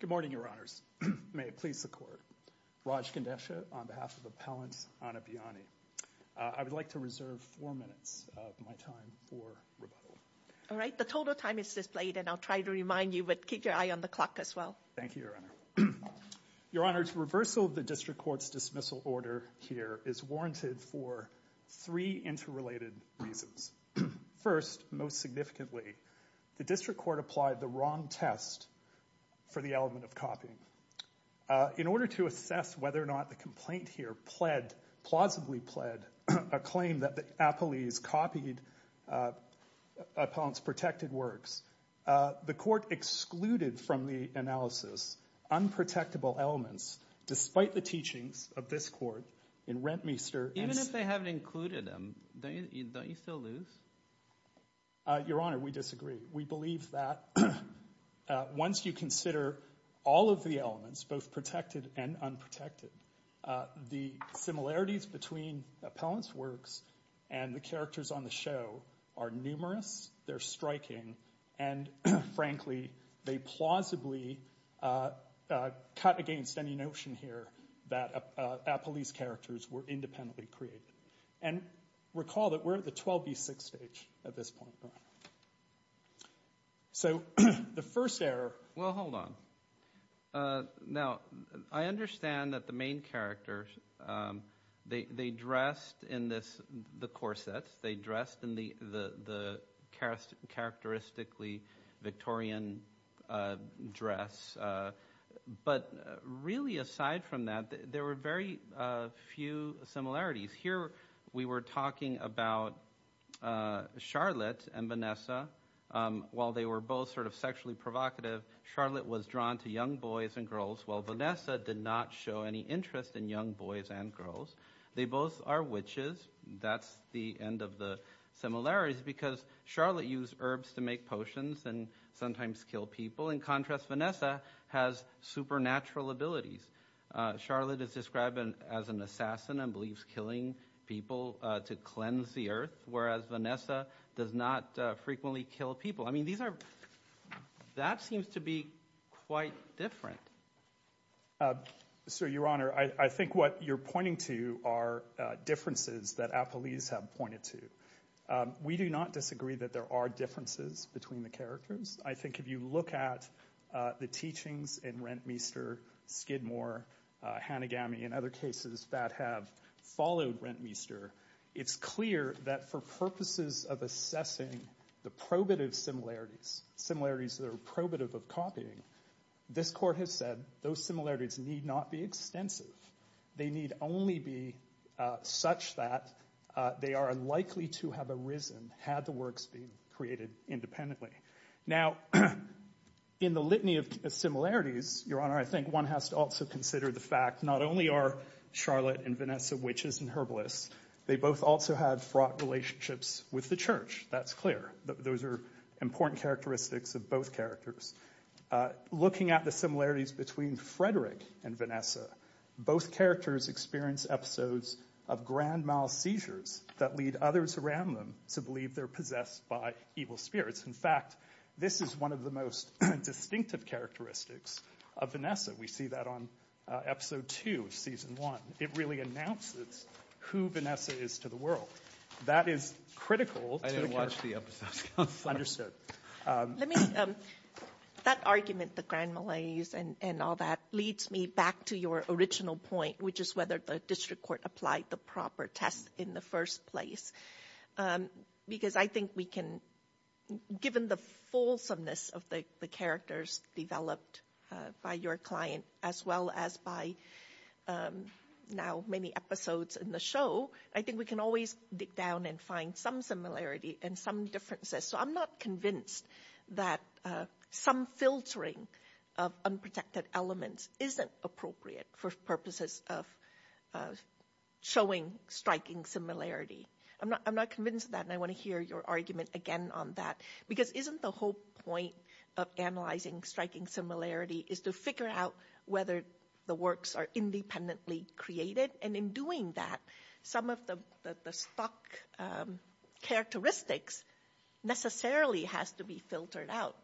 Good morning, Your Honors. May it please the Court. Raj Kandesha on behalf of Appellant Ana Biani. I would like to reserve four minutes of my time for rebuttal. All right. The total time is displayed, and I'll try to remind you, but keep your eye on the clock as well. Thank you, Your Honor. Your Honor, the reversal of the District Court's dismissal order here is warranted for three interrelated reasons. First, most significantly, the District Court applied the wrong test for the element of In order to assess whether or not the complaint here pled, plausibly pled, a claim that the appellees copied Appellant's protected works, the Court excluded from the analysis unprotectable elements, despite the teachings of this Court in Rentmeester and— Even if they haven't included them, don't you still lose? Your Honor, we disagree. We believe that. Once you consider all of the elements, both protected and unprotected, the similarities between Appellant's works and the characters on the show are numerous, they're striking, and frankly, they plausibly cut against any notion here that appellees' characters were independently created. And recall that we're at the 12B6 stage at this point, Your Honor. So, the first error— Well, hold on. Now, I understand that the main characters, they dressed in the corsets, they dressed in the characteristically Victorian dress, but really, aside from that, there were very few similarities. Here, we were talking about Charlotte and Vanessa. While they were both sort of sexually provocative, Charlotte was drawn to young boys and girls, while Vanessa did not show any interest in young boys and girls. They both are witches. That's the end of the similarities, because Charlotte used herbs to make potions and sometimes kill people. In contrast, Vanessa has supernatural abilities. Charlotte is described as an assassin and believes killing people to cleanse the earth, whereas Vanessa does not frequently kill people. I mean, that seems to be quite different. Sir, Your Honor, I think what you're pointing to are differences that appellees have pointed to. We do not disagree that there are differences between the characters. I think if you look at the teachings in Rentmeester, Skidmore, Hanagami, and other cases that have followed Rentmeester, it's clear that for purposes of assessing the probative similarities, similarities that are probative of copying, this Court has said those similarities need not be extensive. They need only be such that they are likely to have arisen had the works been created independently. Now, in the litany of similarities, Your Honor, I think one has to also consider the fact not only are Charlotte and Vanessa witches and herbalists, they both also had fraught relationships with the church. That's clear. Those are important characteristics of both characters. Looking at the similarities between Frederick and Vanessa, both characters experience episodes of grand mal seizures that lead others around them to believe they're possessed by evil spirits. In fact, this is one of the most distinctive characteristics of Vanessa. We see that on Episode 2 of Season 1. It really announces who Vanessa is to the world. That is critical. I didn't watch the episodes, Counselor. Understood. Let me, that argument, the grand malaise and all that, leads me back to your original point, which is whether the District Court applied the proper test in the first place. Because I think we can, given the fulsomeness of the characters developed by your client, as well as by now many episodes in the show, I think we can always dig down and find some similarity and some differences. So I'm not convinced that some filtering of unprotected elements isn't appropriate for purposes of showing striking similarity. I'm not convinced of that, and I want to hear your argument again on that. Because isn't the whole point of analyzing striking similarity is to figure out whether the works are independently created? And in doing that, some of the stuck characteristics necessarily has to be filtered out,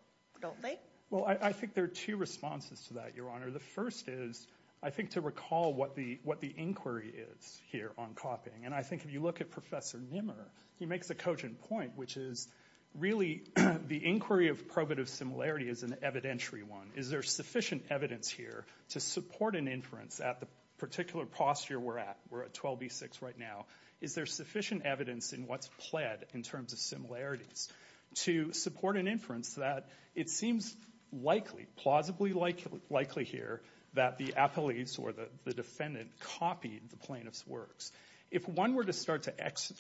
don't they? Well, I think there are two responses to that, Your Honor. The first is, I think, to recall what the inquiry is here on copying. And I think if you look at Professor Nimmer, he makes a cogent point, which is, really, the inquiry of probative similarity is an evidentiary one. Is there sufficient evidence here to support an inference at the particular posture we're at, we're at 12B6 right now? Is there sufficient evidence in what's pled in terms of similarities to support an inference that it seems likely, plausibly likely here, that the appellees or the defendant copied the plaintiff's works? If one were to start to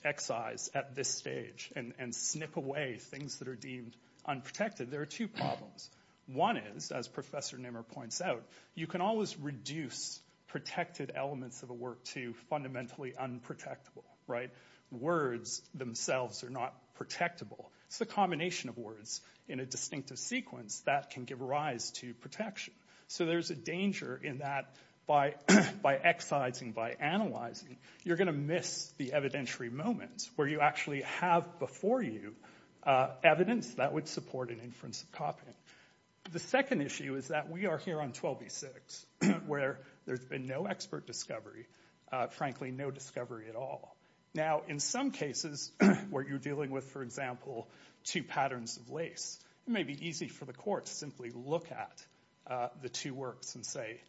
excise at this stage and snip away things that are deemed unprotected, there are two problems. One is, as Professor Nimmer points out, you can always reduce protected elements of a work to fundamentally unprotectable, right? Words themselves are not protectable. It's the combination of words in a distinctive sequence that can give rise to protection. So there's a danger in that by excising, by analyzing, you're going to miss the evidentiary moments where you actually have before you evidence that would support an inference of The second issue is that we are here on 12B6, where there's been no expert discovery, frankly, no discovery at all. Now, in some cases where you're dealing with, for example, two patterns of lace, it may be easy for the court to simply look at the two works and say,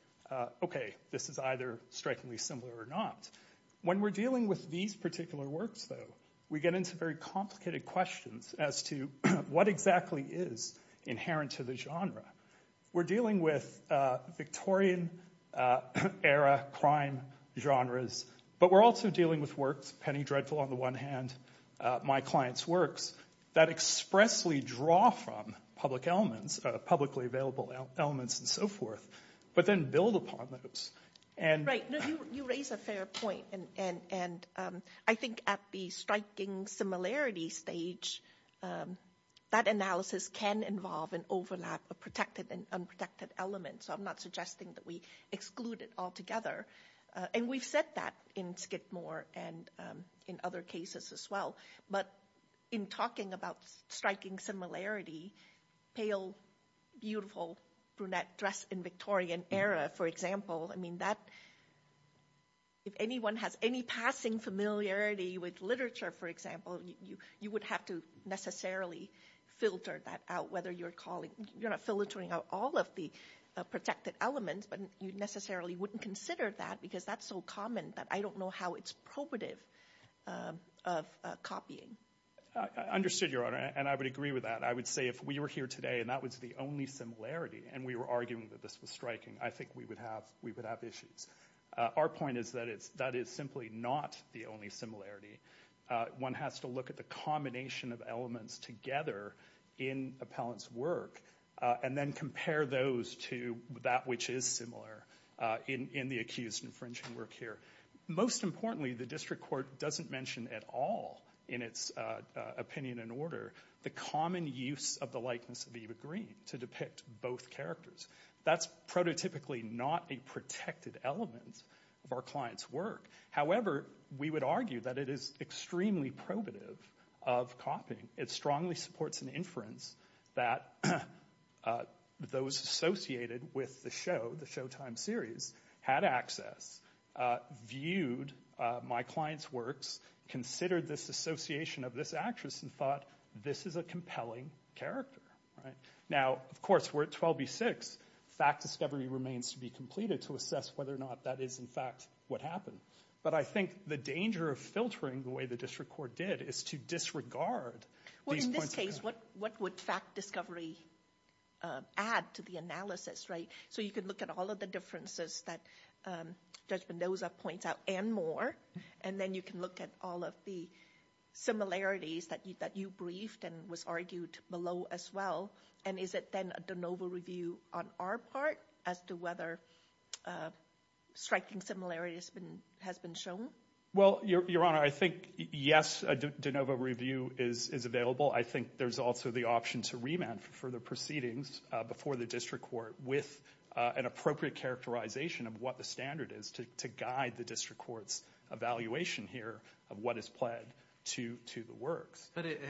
okay, this is either strikingly similar or not. When we're dealing with these particular works, though, we get into very complicated questions as to what exactly is inherent to the genre. We're dealing with Victorian era crime genres, but we're also dealing with works, Penny Dreadful on the one hand, My Client's Works, that expressly draw from public elements, publicly available elements, and so forth, but then build upon those. Right, you raise a fair point, and I think at the striking similarity stage, that analysis can involve an overlap of protected and unprotected elements, so I'm not suggesting that we exclude it altogether. And we've said that in Skidmore and in other cases as well, but in talking about striking similarity, pale, beautiful brunette dress in Victorian era, for example, if anyone has any passing familiarity with literature, for example, you would have to necessarily filter that out, whether you're calling, you're not filtering out all of the protected elements, but you necessarily wouldn't consider that, because that's so common that I don't know how it's probative of copying. I understood, Your Honor, and I would agree with that. I would say if we were here today and that was the only similarity, and we were arguing that this was striking, I think we would have issues. Our point is that that is simply not the only similarity. One has to look at the combination of elements together in a palette's work, and then compare those to that which is similar in the accused infringing work here. Most importantly, the district court doesn't mention at all in its opinion and order the common use of the likeness of Eva Green to depict both characters. That's prototypically not a protected element of our client's work. However, we would argue that it is extremely probative of copying. It strongly supports an inference that those associated with the show, the Showtime series, had access, viewed my client's works, considered this association of this actress, and thought this is a compelling character. Now, of course, we're at 12B6. Fact discovery remains to be completed to assess whether or not that is, in fact, what happened. But I think the danger of filtering the way the district court did is to disregard these points of... Well, in this case, what would fact discovery add to the analysis, right? So you could look at all of the differences that Judge Mendoza points out and more, and then you can look at all of the similarities that you briefed and was argued below as well. And is it then a de novo review on our part as to whether striking similarities has been shown? Well, Your Honor, I think, yes, a de novo review is available. I think there's also the option to remand for the proceedings before the district court with an appropriate characterization of what the standard is to guide the district court's evaluation here of what is pled to the works. But it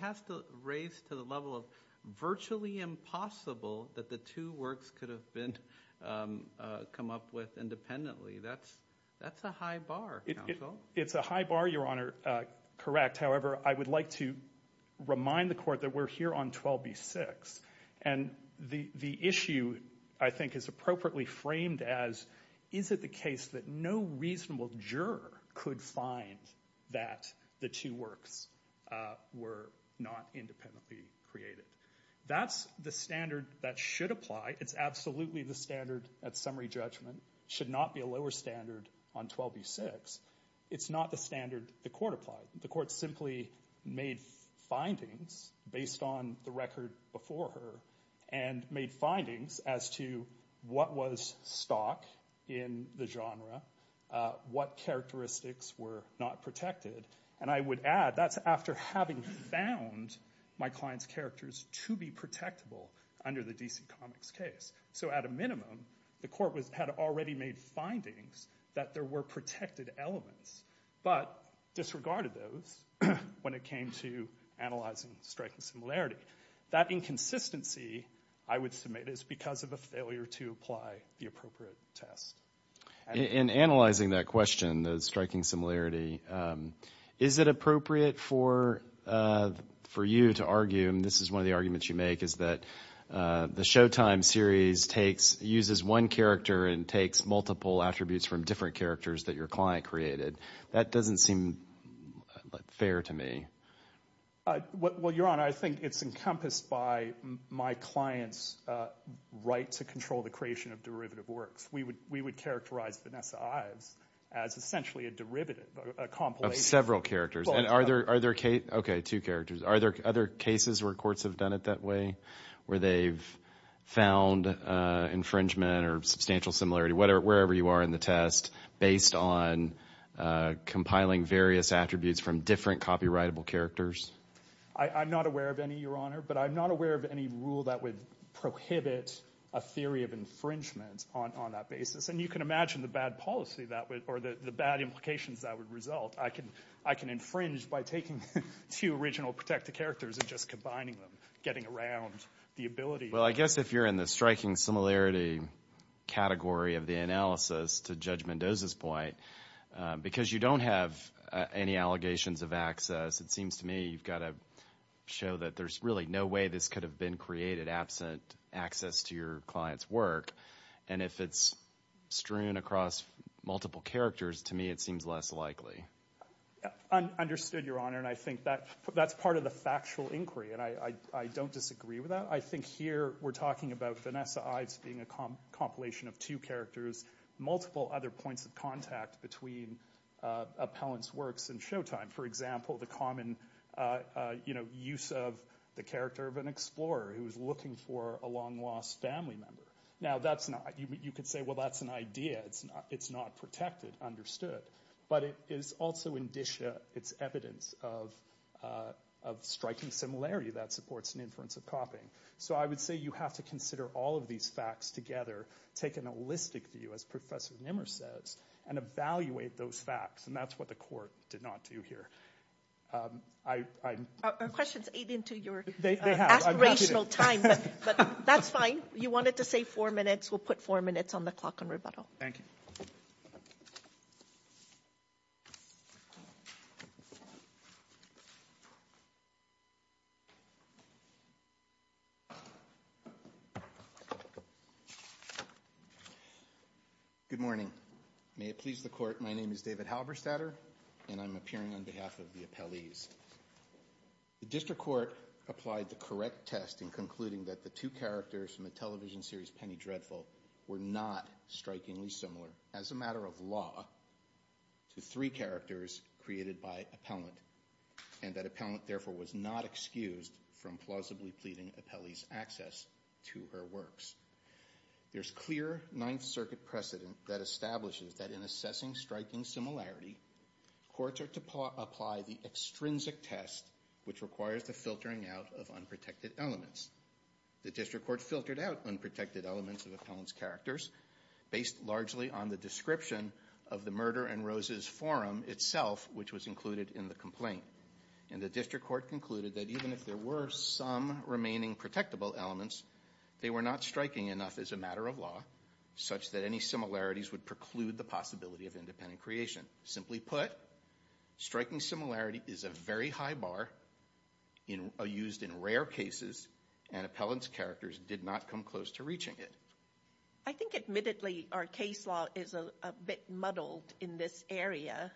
has to raise to the level of virtually impossible that the two works could have been come up with independently. That's a high bar, counsel. It's a high bar, Your Honor, correct. However, I would like to remind the court that we're here on 12B6. And the issue, I think, is appropriately framed as, is it the case that no reasonable juror could find that the two works were not independently created? That's the standard that should apply. It's absolutely the standard at summary judgment. Should not be a lower standard on 12B6. It's not the standard the court applied. The court simply made findings based on the record before her and made findings as to what was stock in the genre, what characteristics were not protected. And I would add, that's after having found my client's characters to be protectable under the DC Comics case. So at a minimum, the court had already made findings that there were protected elements, but disregarded those when it came to analyzing striking similarity. That inconsistency, I would submit, is because of a failure to apply the appropriate test. In analyzing that question, the striking similarity, is it appropriate for you to argue, and this is one of the arguments you make, is that the Showtime series uses one character and takes multiple attributes from different characters that your client created? That doesn't seem fair to me. Well, Your Honor, I think it's encompassed by my client's right to control the creation of derivative works. We would characterize Vanessa Ives as essentially a derivative, a compilation. Of several characters. And are there, okay, two characters. Are there other cases where courts have done it that way? Where they've found infringement or substantial similarity, wherever you are in the test, based on compiling various attributes from different copyrightable characters? I'm not aware of any, Your Honor, but I'm not aware of any rule that would prohibit a theory of infringement on that basis. And you can imagine the bad policy that would, or the bad implications that would result. I can infringe by taking two original protected characters and just combining them, getting around the ability. Well, I guess if you're in the striking similarity category of the analysis to Judge Mendoza's point, because you don't have any allegations of access, it seems to me you've got to show that there's really no way this could have been created absent access to your client's work. And if it's strewn across multiple characters, to me it seems less likely. Understood, Your Honor. And I think that's part of the factual inquiry, and I don't disagree with that. I think here we're talking about Vanessa Ives being a compilation of two characters, multiple other points of contact between Appellant's works and Showtime. For example, the common use of the character of an explorer who was looking for a long-lost family member. Now, that's not, you could say, well, that's an idea, it's not protected, understood. But it is also indicia, it's evidence of striking similarity that supports an inference of copying. So I would say you have to consider all of these facts together, take an holistic view, as Professor Nimmer says, and evaluate those facts, and that's what the Court did not do here. Our questions aid into your aspirational time, but that's fine. You wanted to say four minutes, we'll put four minutes on the clock on rebuttal. Thank you. Good morning, may it please the Court, my name is David Halberstadter, and I'm appearing on behalf of the Appellees. The District Court applied the correct test in concluding that the two characters from the television series Penny Dreadful were not strikingly similar, as a matter of law, to three characters created by Appellant, and that Appellant, therefore, was not excused from plausibly pleading Appellee's access to her works. There's clear Ninth Circuit precedent that establishes that in assessing striking similarity, courts are to apply the extrinsic test which requires the filtering out of unprotected elements. The District Court filtered out unprotected elements of Appellant's characters, based largely on the description of the Murder and Roses forum itself, which was included in the complaint. And the District Court concluded that even if there were some remaining protectable elements, they were not striking enough as a matter of law, such that any similarities would preclude the possibility of independent creation. Simply put, striking similarity is a very high bar used in rare cases, and Appellant's characters did not come close to reaching it. I think, admittedly, our case law is a bit muddled in this area.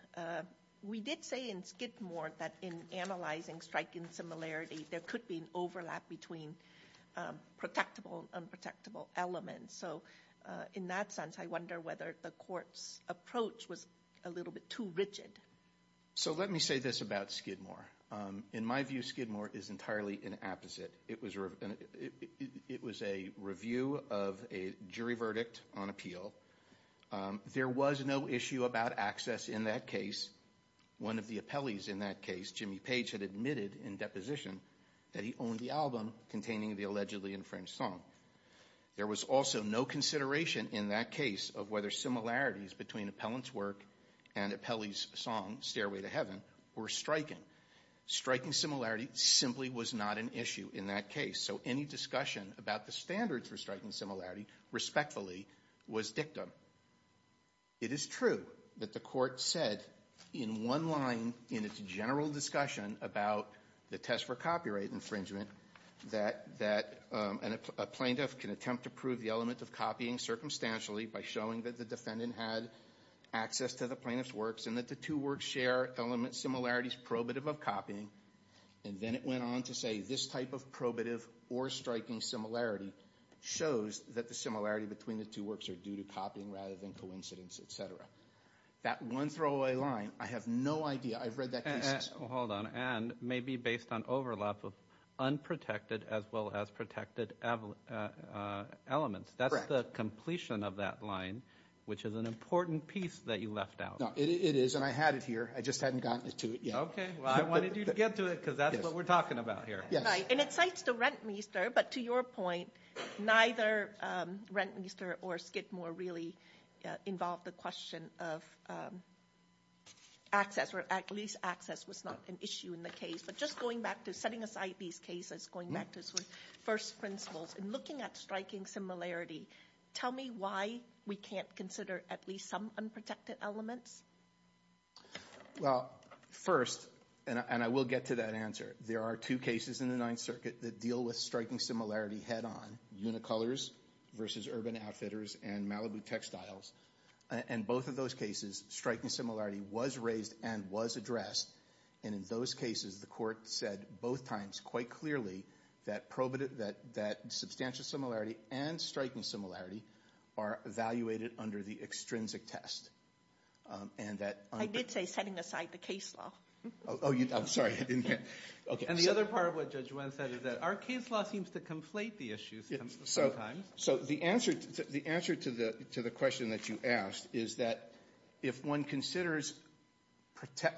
We did say in Skidmore that in analyzing striking similarity, there could be an overlap between protectable and unprotectable elements. So in that sense, I wonder whether the court's approach was a little bit too rigid. So let me say this about Skidmore. In my view, Skidmore is entirely an apposite. It was a review of a jury verdict on appeal. There was no issue about access in that case. One of the appellees in that case, Jimmy Page, had admitted in deposition that he owned the album containing the allegedly infringed song. There was also no consideration in that case of whether similarities between Appellant's work and Appellee's song, Stairway to Heaven, were striking. Striking similarity simply was not an issue in that case. So any discussion about the standards for striking similarity, respectfully, was dictum. It is true that the court said in one line in its general discussion about the test for copyright infringement that a plaintiff can attempt to prove the element of copying circumstantially by showing that the defendant had access to the plaintiff's works and that the two works share element similarities probative of copying. And then it went on to say this type of probative or striking similarity shows that the similarity between the two works are due to copying rather than coincidence, et cetera. That one throwaway line, I have no idea. I've read that case. Hold on. And maybe based on overlap of unprotected as well as protected elements. That's the completion of that line, which is an important piece that you left out. No, it is. And I had it here. I just hadn't gotten to it yet. Okay. Well, I wanted you to get to it because that's what we're talking about here. Yes. And it cites the Rentmeester. But to your point, neither Rentmeester or Skidmore really involved the question of access or at least access was not an issue in the case. But just going back to setting aside these cases, going back to sort of first principles and looking at striking similarity. Tell me why we can't consider at least some unprotected elements? Well, first, and I will get to that answer. There are two cases in the Ninth Circuit that deal with striking similarity head on. Unicolors versus Urban Outfitters and Malibu Textiles. In both of those cases, striking similarity was raised and was addressed. And in those cases, the court said both times quite clearly that substantial similarity and striking similarity are evaluated under the extrinsic test. And that... I did say setting aside the case law. Oh, I'm sorry. I didn't get it. Okay. And the other part of what Judge Wen said is that our case law seems to conflate the issues sometimes. So the answer to the question that you asked is that if one considers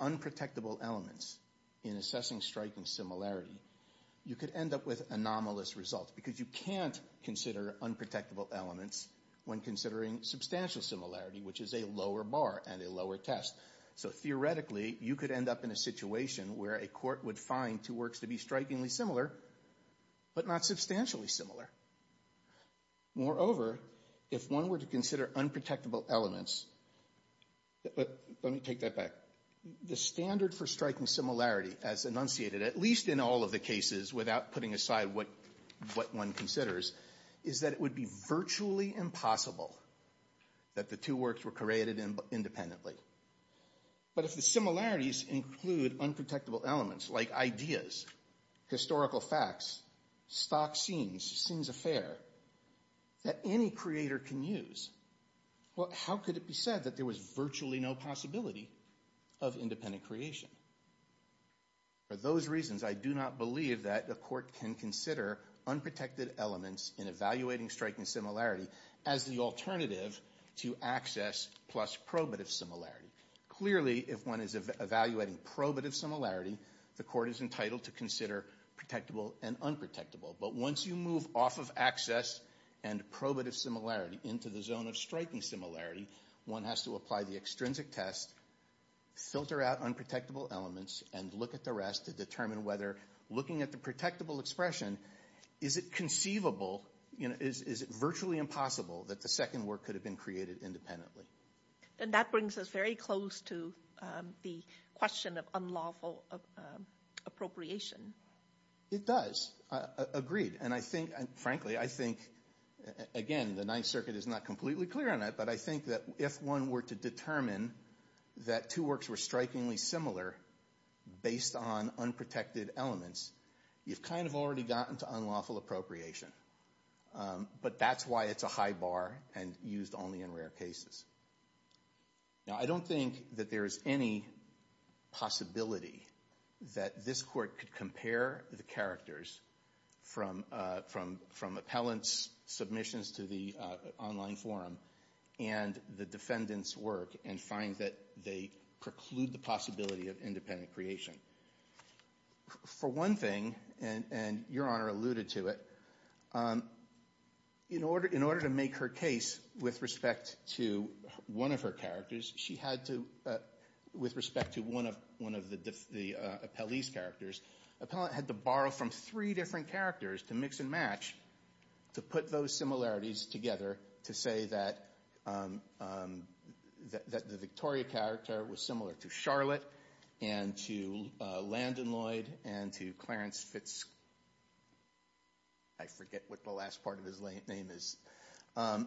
unprotectable elements in assessing striking similarity, you could end up with anomalous results because you can't consider unprotectable elements when considering substantial similarity, which is a lower bar and a lower test. So theoretically, you could end up in a situation where a court would find two works to be strikingly similar, but not substantially similar. Moreover, if one were to consider unprotectable elements... Let me take that back. The standard for striking similarity as enunciated, at least in all of the cases without putting aside what one considers, is that it would be virtually impossible that the two works were created independently. But if the similarities include unprotectable elements like ideas, historical facts, stock scenes, sins affair, that any creator can use, how could it be said that there was virtually no possibility of independent creation? For those reasons, I do not believe that a court can consider unprotected elements in evaluating striking similarity as the alternative to access plus probative similarity. Clearly, if one is evaluating probative similarity, the court is entitled to consider protectable and unprotectable. But once you move off of access and probative similarity into the zone of striking similarity, one has to apply the extrinsic test, filter out unprotectable elements, and look at the to determine whether, looking at the protectable expression, is it conceivable, is it virtually impossible that the second work could have been created independently? And that brings us very close to the question of unlawful appropriation. It does. Agreed. And I think, frankly, I think, again, the Ninth Circuit is not completely clear on that, but I think that if one were to determine that two works were strikingly similar based on unprotected elements, you've kind of already gotten to unlawful appropriation. But that's why it's a high bar and used only in rare cases. Now I don't think that there is any possibility that this court could compare the characters from appellants' submissions to the online forum and the defendant's work and find that they preclude the possibility of independent creation. For one thing, and Your Honor alluded to it, in order to make her case with respect to one of her characters, she had to, with respect to one of the appellee's characters, the appellant had to borrow from three different characters to mix and match to put those similarities together to say that the Victoria character was similar to Charlotte and to Landon Lloyd and to Clarence Fitz, I forget what the last part of his name is. The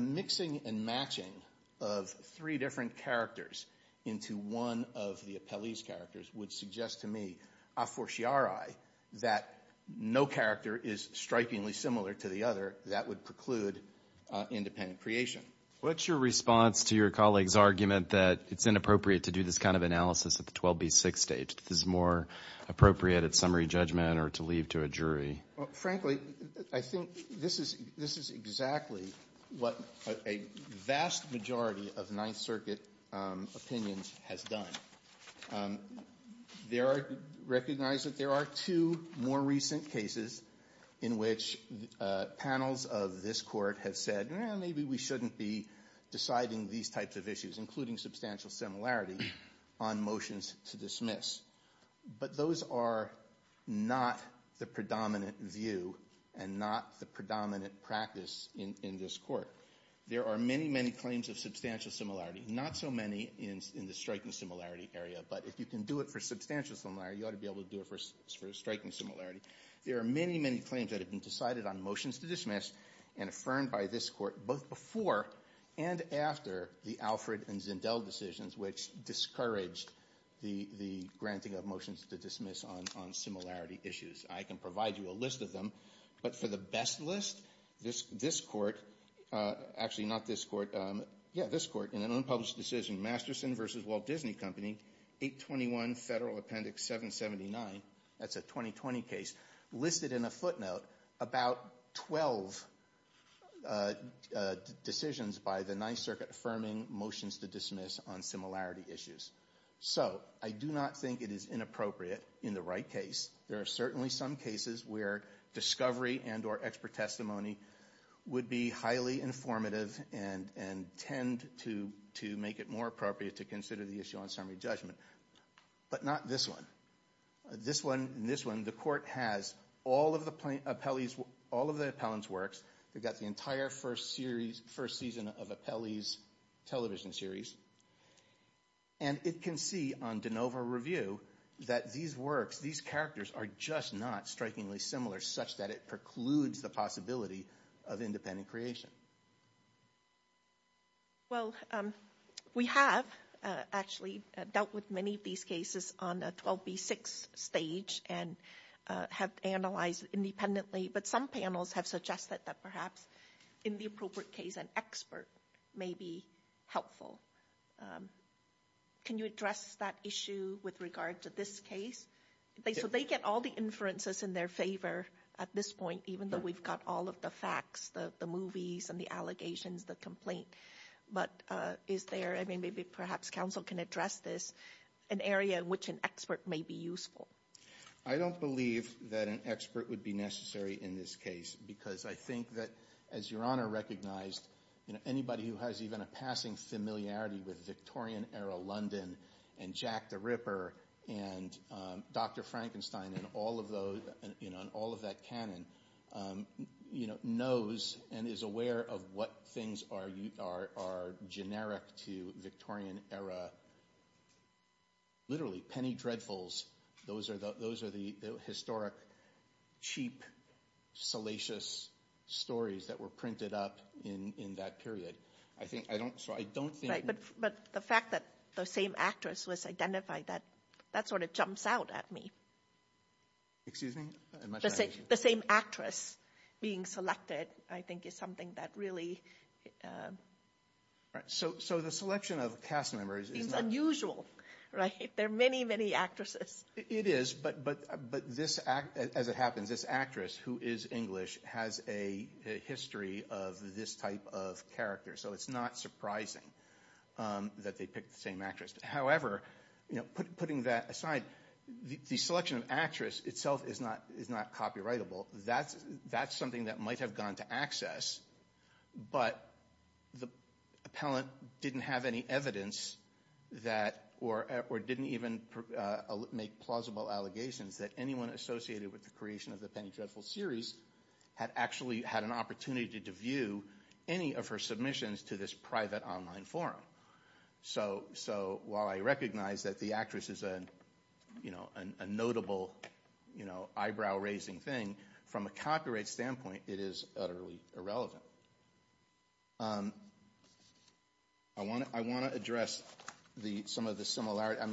mixing and matching of three different characters into one of the appellee's characters would suggest to me a fortiori that no character is strikingly similar to the other that would preclude independent creation. What's your response to your colleague's argument that it's inappropriate to do this kind of analysis at the 12B6 stage, that this is more appropriate at summary judgment or to leave to a jury? Frankly, I think this is exactly what a vast majority of Ninth Circuit opinions has done. There are, recognize that there are two more recent cases in which panels of this court have said, well, maybe we shouldn't be deciding these types of issues, including substantial similarity, on motions to dismiss. But those are not the predominant view and not the predominant practice in this court. There are many, many claims of substantial similarity, not so many in the striking similarity area, but if you can do it for substantial similarity, you ought to be able to do it for striking similarity. There are many, many claims that have been decided on motions to dismiss and affirmed by this court both before and after the Alfred and Zendel decisions, which discouraged the granting of motions to dismiss on similarity issues. I can provide you a list of them, but for the best list, this court, actually not this court, yeah, this court, in an unpublished decision, Masterson v. Walt Disney Company, 821 Federal Appendix 779, that's a 2020 case, listed in a footnote about 12 decisions by the Ninth Circuit affirming motions to dismiss on similarity issues. So I do not think it is inappropriate in the right case. There are certainly some cases where discovery and or expert testimony would be highly informative and tend to make it more appropriate to consider the issue on summary judgment, but not this one. This one and this one, the court has all of the Appellee's, all of the Appellant's works. They've got the entire first series, first season of Appellee's television series, and it can see on de novo review that these works, these characters are just not strikingly similar such that it precludes the possibility of independent creation. Well, we have actually dealt with many of these cases on a 12B6 stage and have analyzed independently, but some panels have suggested that perhaps in the appropriate case, an expert may be helpful. Can you address that issue with regard to this case? So they get all the inferences in their favor at this point, even though we've got all of the facts, the movies and the allegations, the complaint, but is there, I mean, maybe perhaps counsel can address this, an area in which an expert may be useful. I don't believe that an expert would be necessary in this case because I think that, as Your Honor recognized, anybody who has even a passing familiarity with Victorian-era London and Jack the Ripper and Dr. Frankenstein and all of those, and all of that canon, knows and is aware of what things are generic to Victorian-era, literally, penny dreadfuls. Those are the historic, cheap, salacious stories that were printed up in that period. I think, I don't, so I don't think... Right, but the fact that the same actress was identified, that sort of jumps out at me. Excuse me? The same actress being selected, I think, is something that really... Right, so the selection of cast members is not... It's unusual, right? There are many, many actresses. It is, but this act, as it happens, this actress who is English has a history of this type of character, so it's not surprising that they picked the same actress. However, putting that aside, the selection of actress itself is not copyrightable. That's something that might have gone to access, but the appellant didn't have any evidence that, or didn't even make plausible allegations that anyone associated with the creation of the Penny Dreadful series had actually had an opportunity to view any of her submissions to this private online forum. So while I recognize that the actress is a notable, you know, eyebrow-raising thing, from a copyright standpoint, it is utterly irrelevant. I want to address some of the similarities.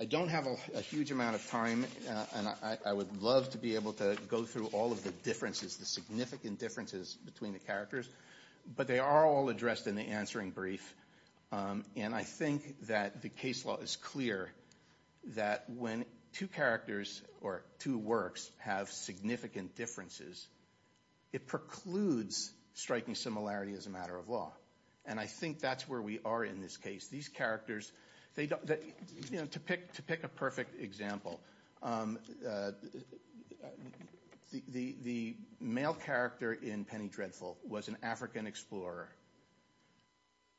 I don't have a huge amount of time, and I would love to be able to go through all of the differences, the significant differences between the characters, but they are all addressed in the answering brief, and I think that the case law is clear that when two characters or two works have significant differences, it precludes striking similarity as a matter of law, and I think that's where we are in this case. These characters, you know, to pick a perfect example, the male character in Penny Dreadful was an African explorer.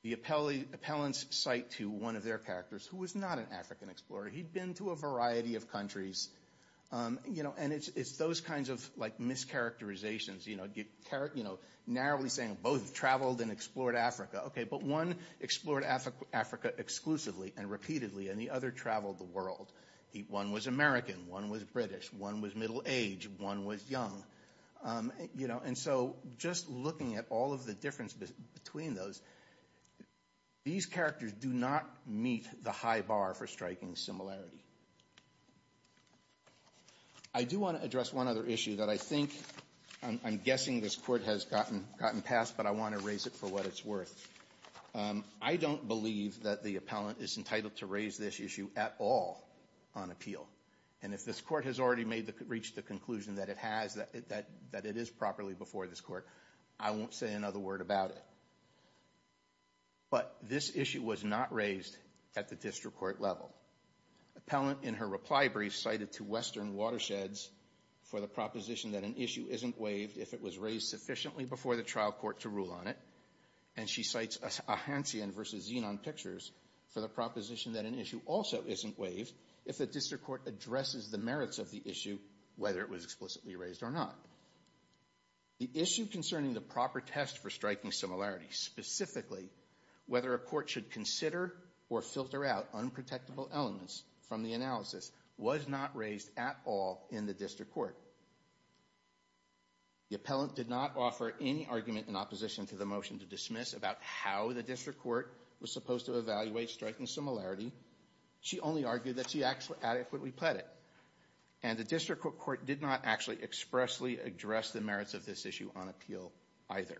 The appellant's cite to one of their characters, who was not an African explorer, he'd been to a variety of countries, you know, and it's those kinds of, like, mischaracterizations, you know, narrowly saying both traveled and explored Africa. But one explored Africa exclusively and repeatedly, and the other traveled the world. One was American, one was British, one was middle-aged, one was young, you know, and so just looking at all of the difference between those, these characters do not meet the high bar for striking similarity. I do want to address one other issue that I think, I'm guessing this Court has gotten past, but I want to raise it for what it's worth. I don't believe that the appellant is entitled to raise this issue at all on appeal, and if this Court has already made the, reached the conclusion that it has, that it is properly before this Court, I won't say another word about it. But this issue was not raised at the district court level. Appellant in her reply brief cited to Western Watersheds for the proposition that an issue isn't waived if it was raised sufficiently before the trial court to rule on it, and she cites Ahantian v. Xenon Pictures for the proposition that an issue also isn't waived if the district court addresses the merits of the issue, whether it was explicitly raised or not. The issue concerning the proper test for striking similarity, specifically whether a court should consider or filter out unprotectable elements from the analysis, was not raised at all in the district court. The appellant did not offer any argument in opposition to the motion to dismiss about how the district court was supposed to evaluate striking similarity. She only argued that she adequately pled it. And the district court did not actually expressly address the merits of this issue on appeal either.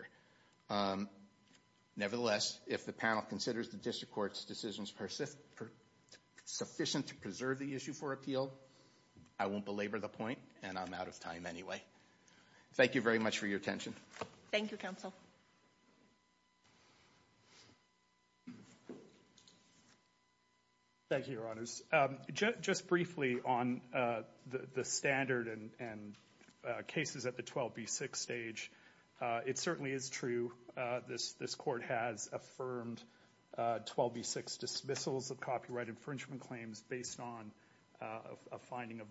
Nevertheless, if the panel considers the district court's decisions sufficient to preserve the issue for appeal, I won't belabor the point, and I'm out of time anyway. Thank you very much for your attention. Thank you, counsel. Thank you, your honors. Just briefly on the standard and cases at the 12B6 stage, it certainly is true this court has affirmed 12B6 dismissals of copyright infringement claims based on a finding of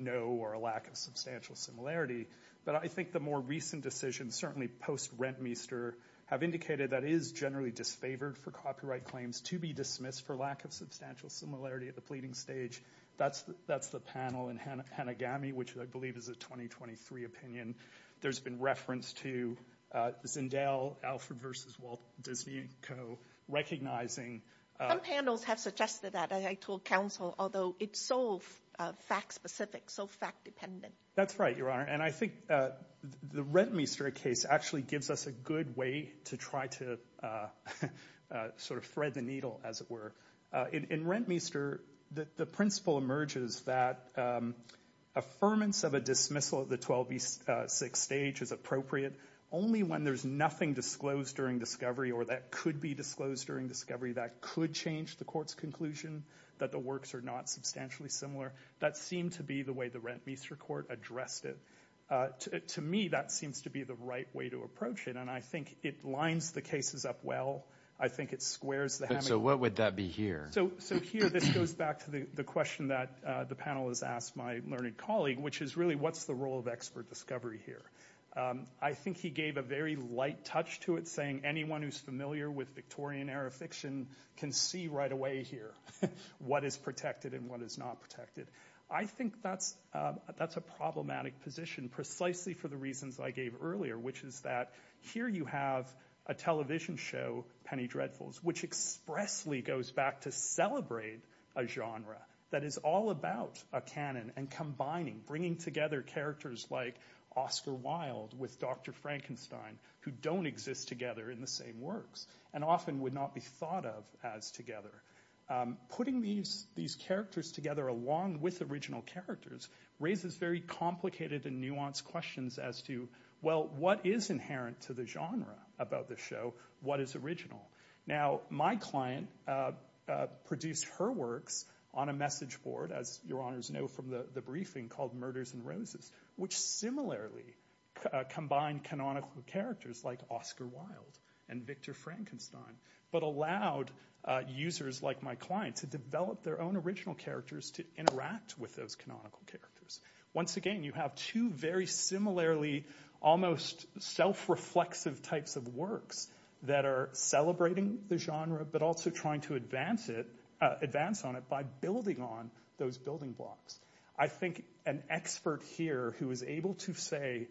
no or a lack of substantial similarity. But I think the more recent decisions, certainly post-Rentmeester, have indicated that it is generally disfavored for copyright claims to be dismissed for lack of substantial similarity at the pleading stage. That's the panel in Hanagami, which I believe is a 2023 opinion. There's been reference to Zendale, Alfred v. Walt Disney and Co. recognizing... Some panels have suggested that, I told counsel, although it's so fact-specific, so fact-dependent. That's right, your honor. And I think the Rentmeester case actually gives us a good way to try to sort of thread the needle, as it were. In Rentmeester, the principle emerges that affirmance of a dismissal at the 12B6 stage is appropriate only when there's nothing disclosed during discovery or that could be disclosed during discovery that could change the court's conclusion that the works are not substantially similar. That seemed to be the way the Rentmeester court addressed it. To me, that seems to be the right way to approach it. And I think it lines the cases up well. I think it squares the... So what would that be here? So here, this goes back to the question that the panel has asked my learned colleague, which is really, what's the role of expert discovery here? I think he gave a very light touch to it, saying anyone who's familiar with Victorian era fiction can see right away here what is protected and what is not protected. I think that's a problematic position, precisely for the reasons I gave earlier, which is that here you have a television show, Penny Dreadfuls, which expressly goes back to celebrate a genre that is all about a canon and combining, bringing together characters like Oscar Wilde with Dr. Frankenstein, who don't exist together in the same works and often would not be thought of as together. Putting these characters together along with original characters raises very complicated and nuanced questions as to, well, what is inherent to the genre about the show? What is original? Now, my client produced her works on a message board, as your honors know from the briefing, called Murders and Roses, which similarly combined canonical characters like Oscar Wilde and Victor Frankenstein, but allowed users like my client to develop their own original characters to interact with those canonical characters. Once again, you have two very similarly almost self-reflexive types of works that are celebrating the genre, but also trying to advance on it by building on those building blocks. I think an expert here who is able to say,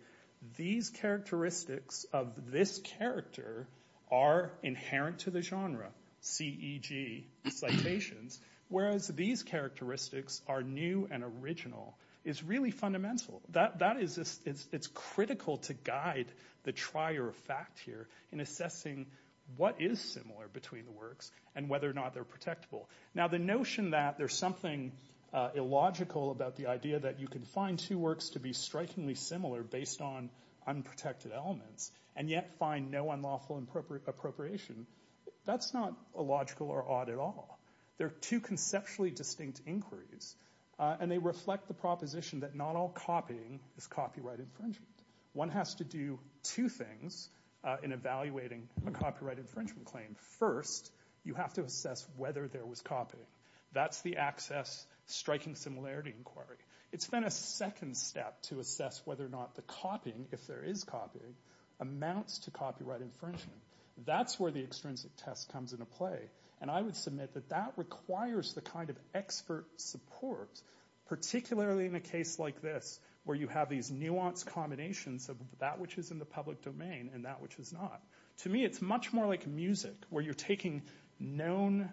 these characteristics of this character are inherent to the genre, C-E-G, citations, whereas these characteristics are new and original is really fundamental. That is, it's critical to guide the trier of fact here in assessing what is similar between the works and whether or not they're protectable. Now, the notion that there's something illogical about the idea that you can find two works to be strikingly similar based on unprotected elements and yet find no unlawful appropriation, that's not illogical or odd at all. They're two conceptually distinct inquiries and they reflect the proposition that not all copying is copyright infringement. One has to do two things in evaluating a copyright infringement claim. First, you have to assess whether there was copying. That's the access striking similarity inquiry. It's been a second step to assess whether or not the copying, if there is copying, amounts to copyright infringement. That's where the extrinsic test comes into play. I would submit that that requires the kind of expert support, particularly in a case like this where you have these nuanced combinations of that which is in the public domain and that which is not. To me, it's much more like music where you're taking known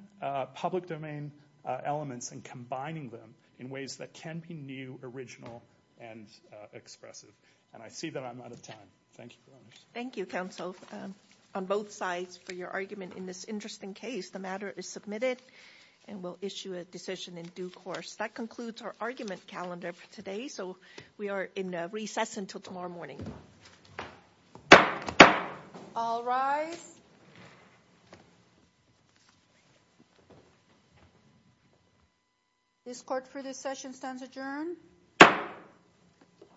public domain elements and combining them in ways that can be new, original, and expressive. I see that I'm out of time. Thank you. Thank you, counsel, on both sides for your argument in this interesting case. The matter is submitted and we'll issue a decision in due course. That concludes our argument calendar for today. So we are in recess until tomorrow morning. All rise. This court for this session stands adjourned.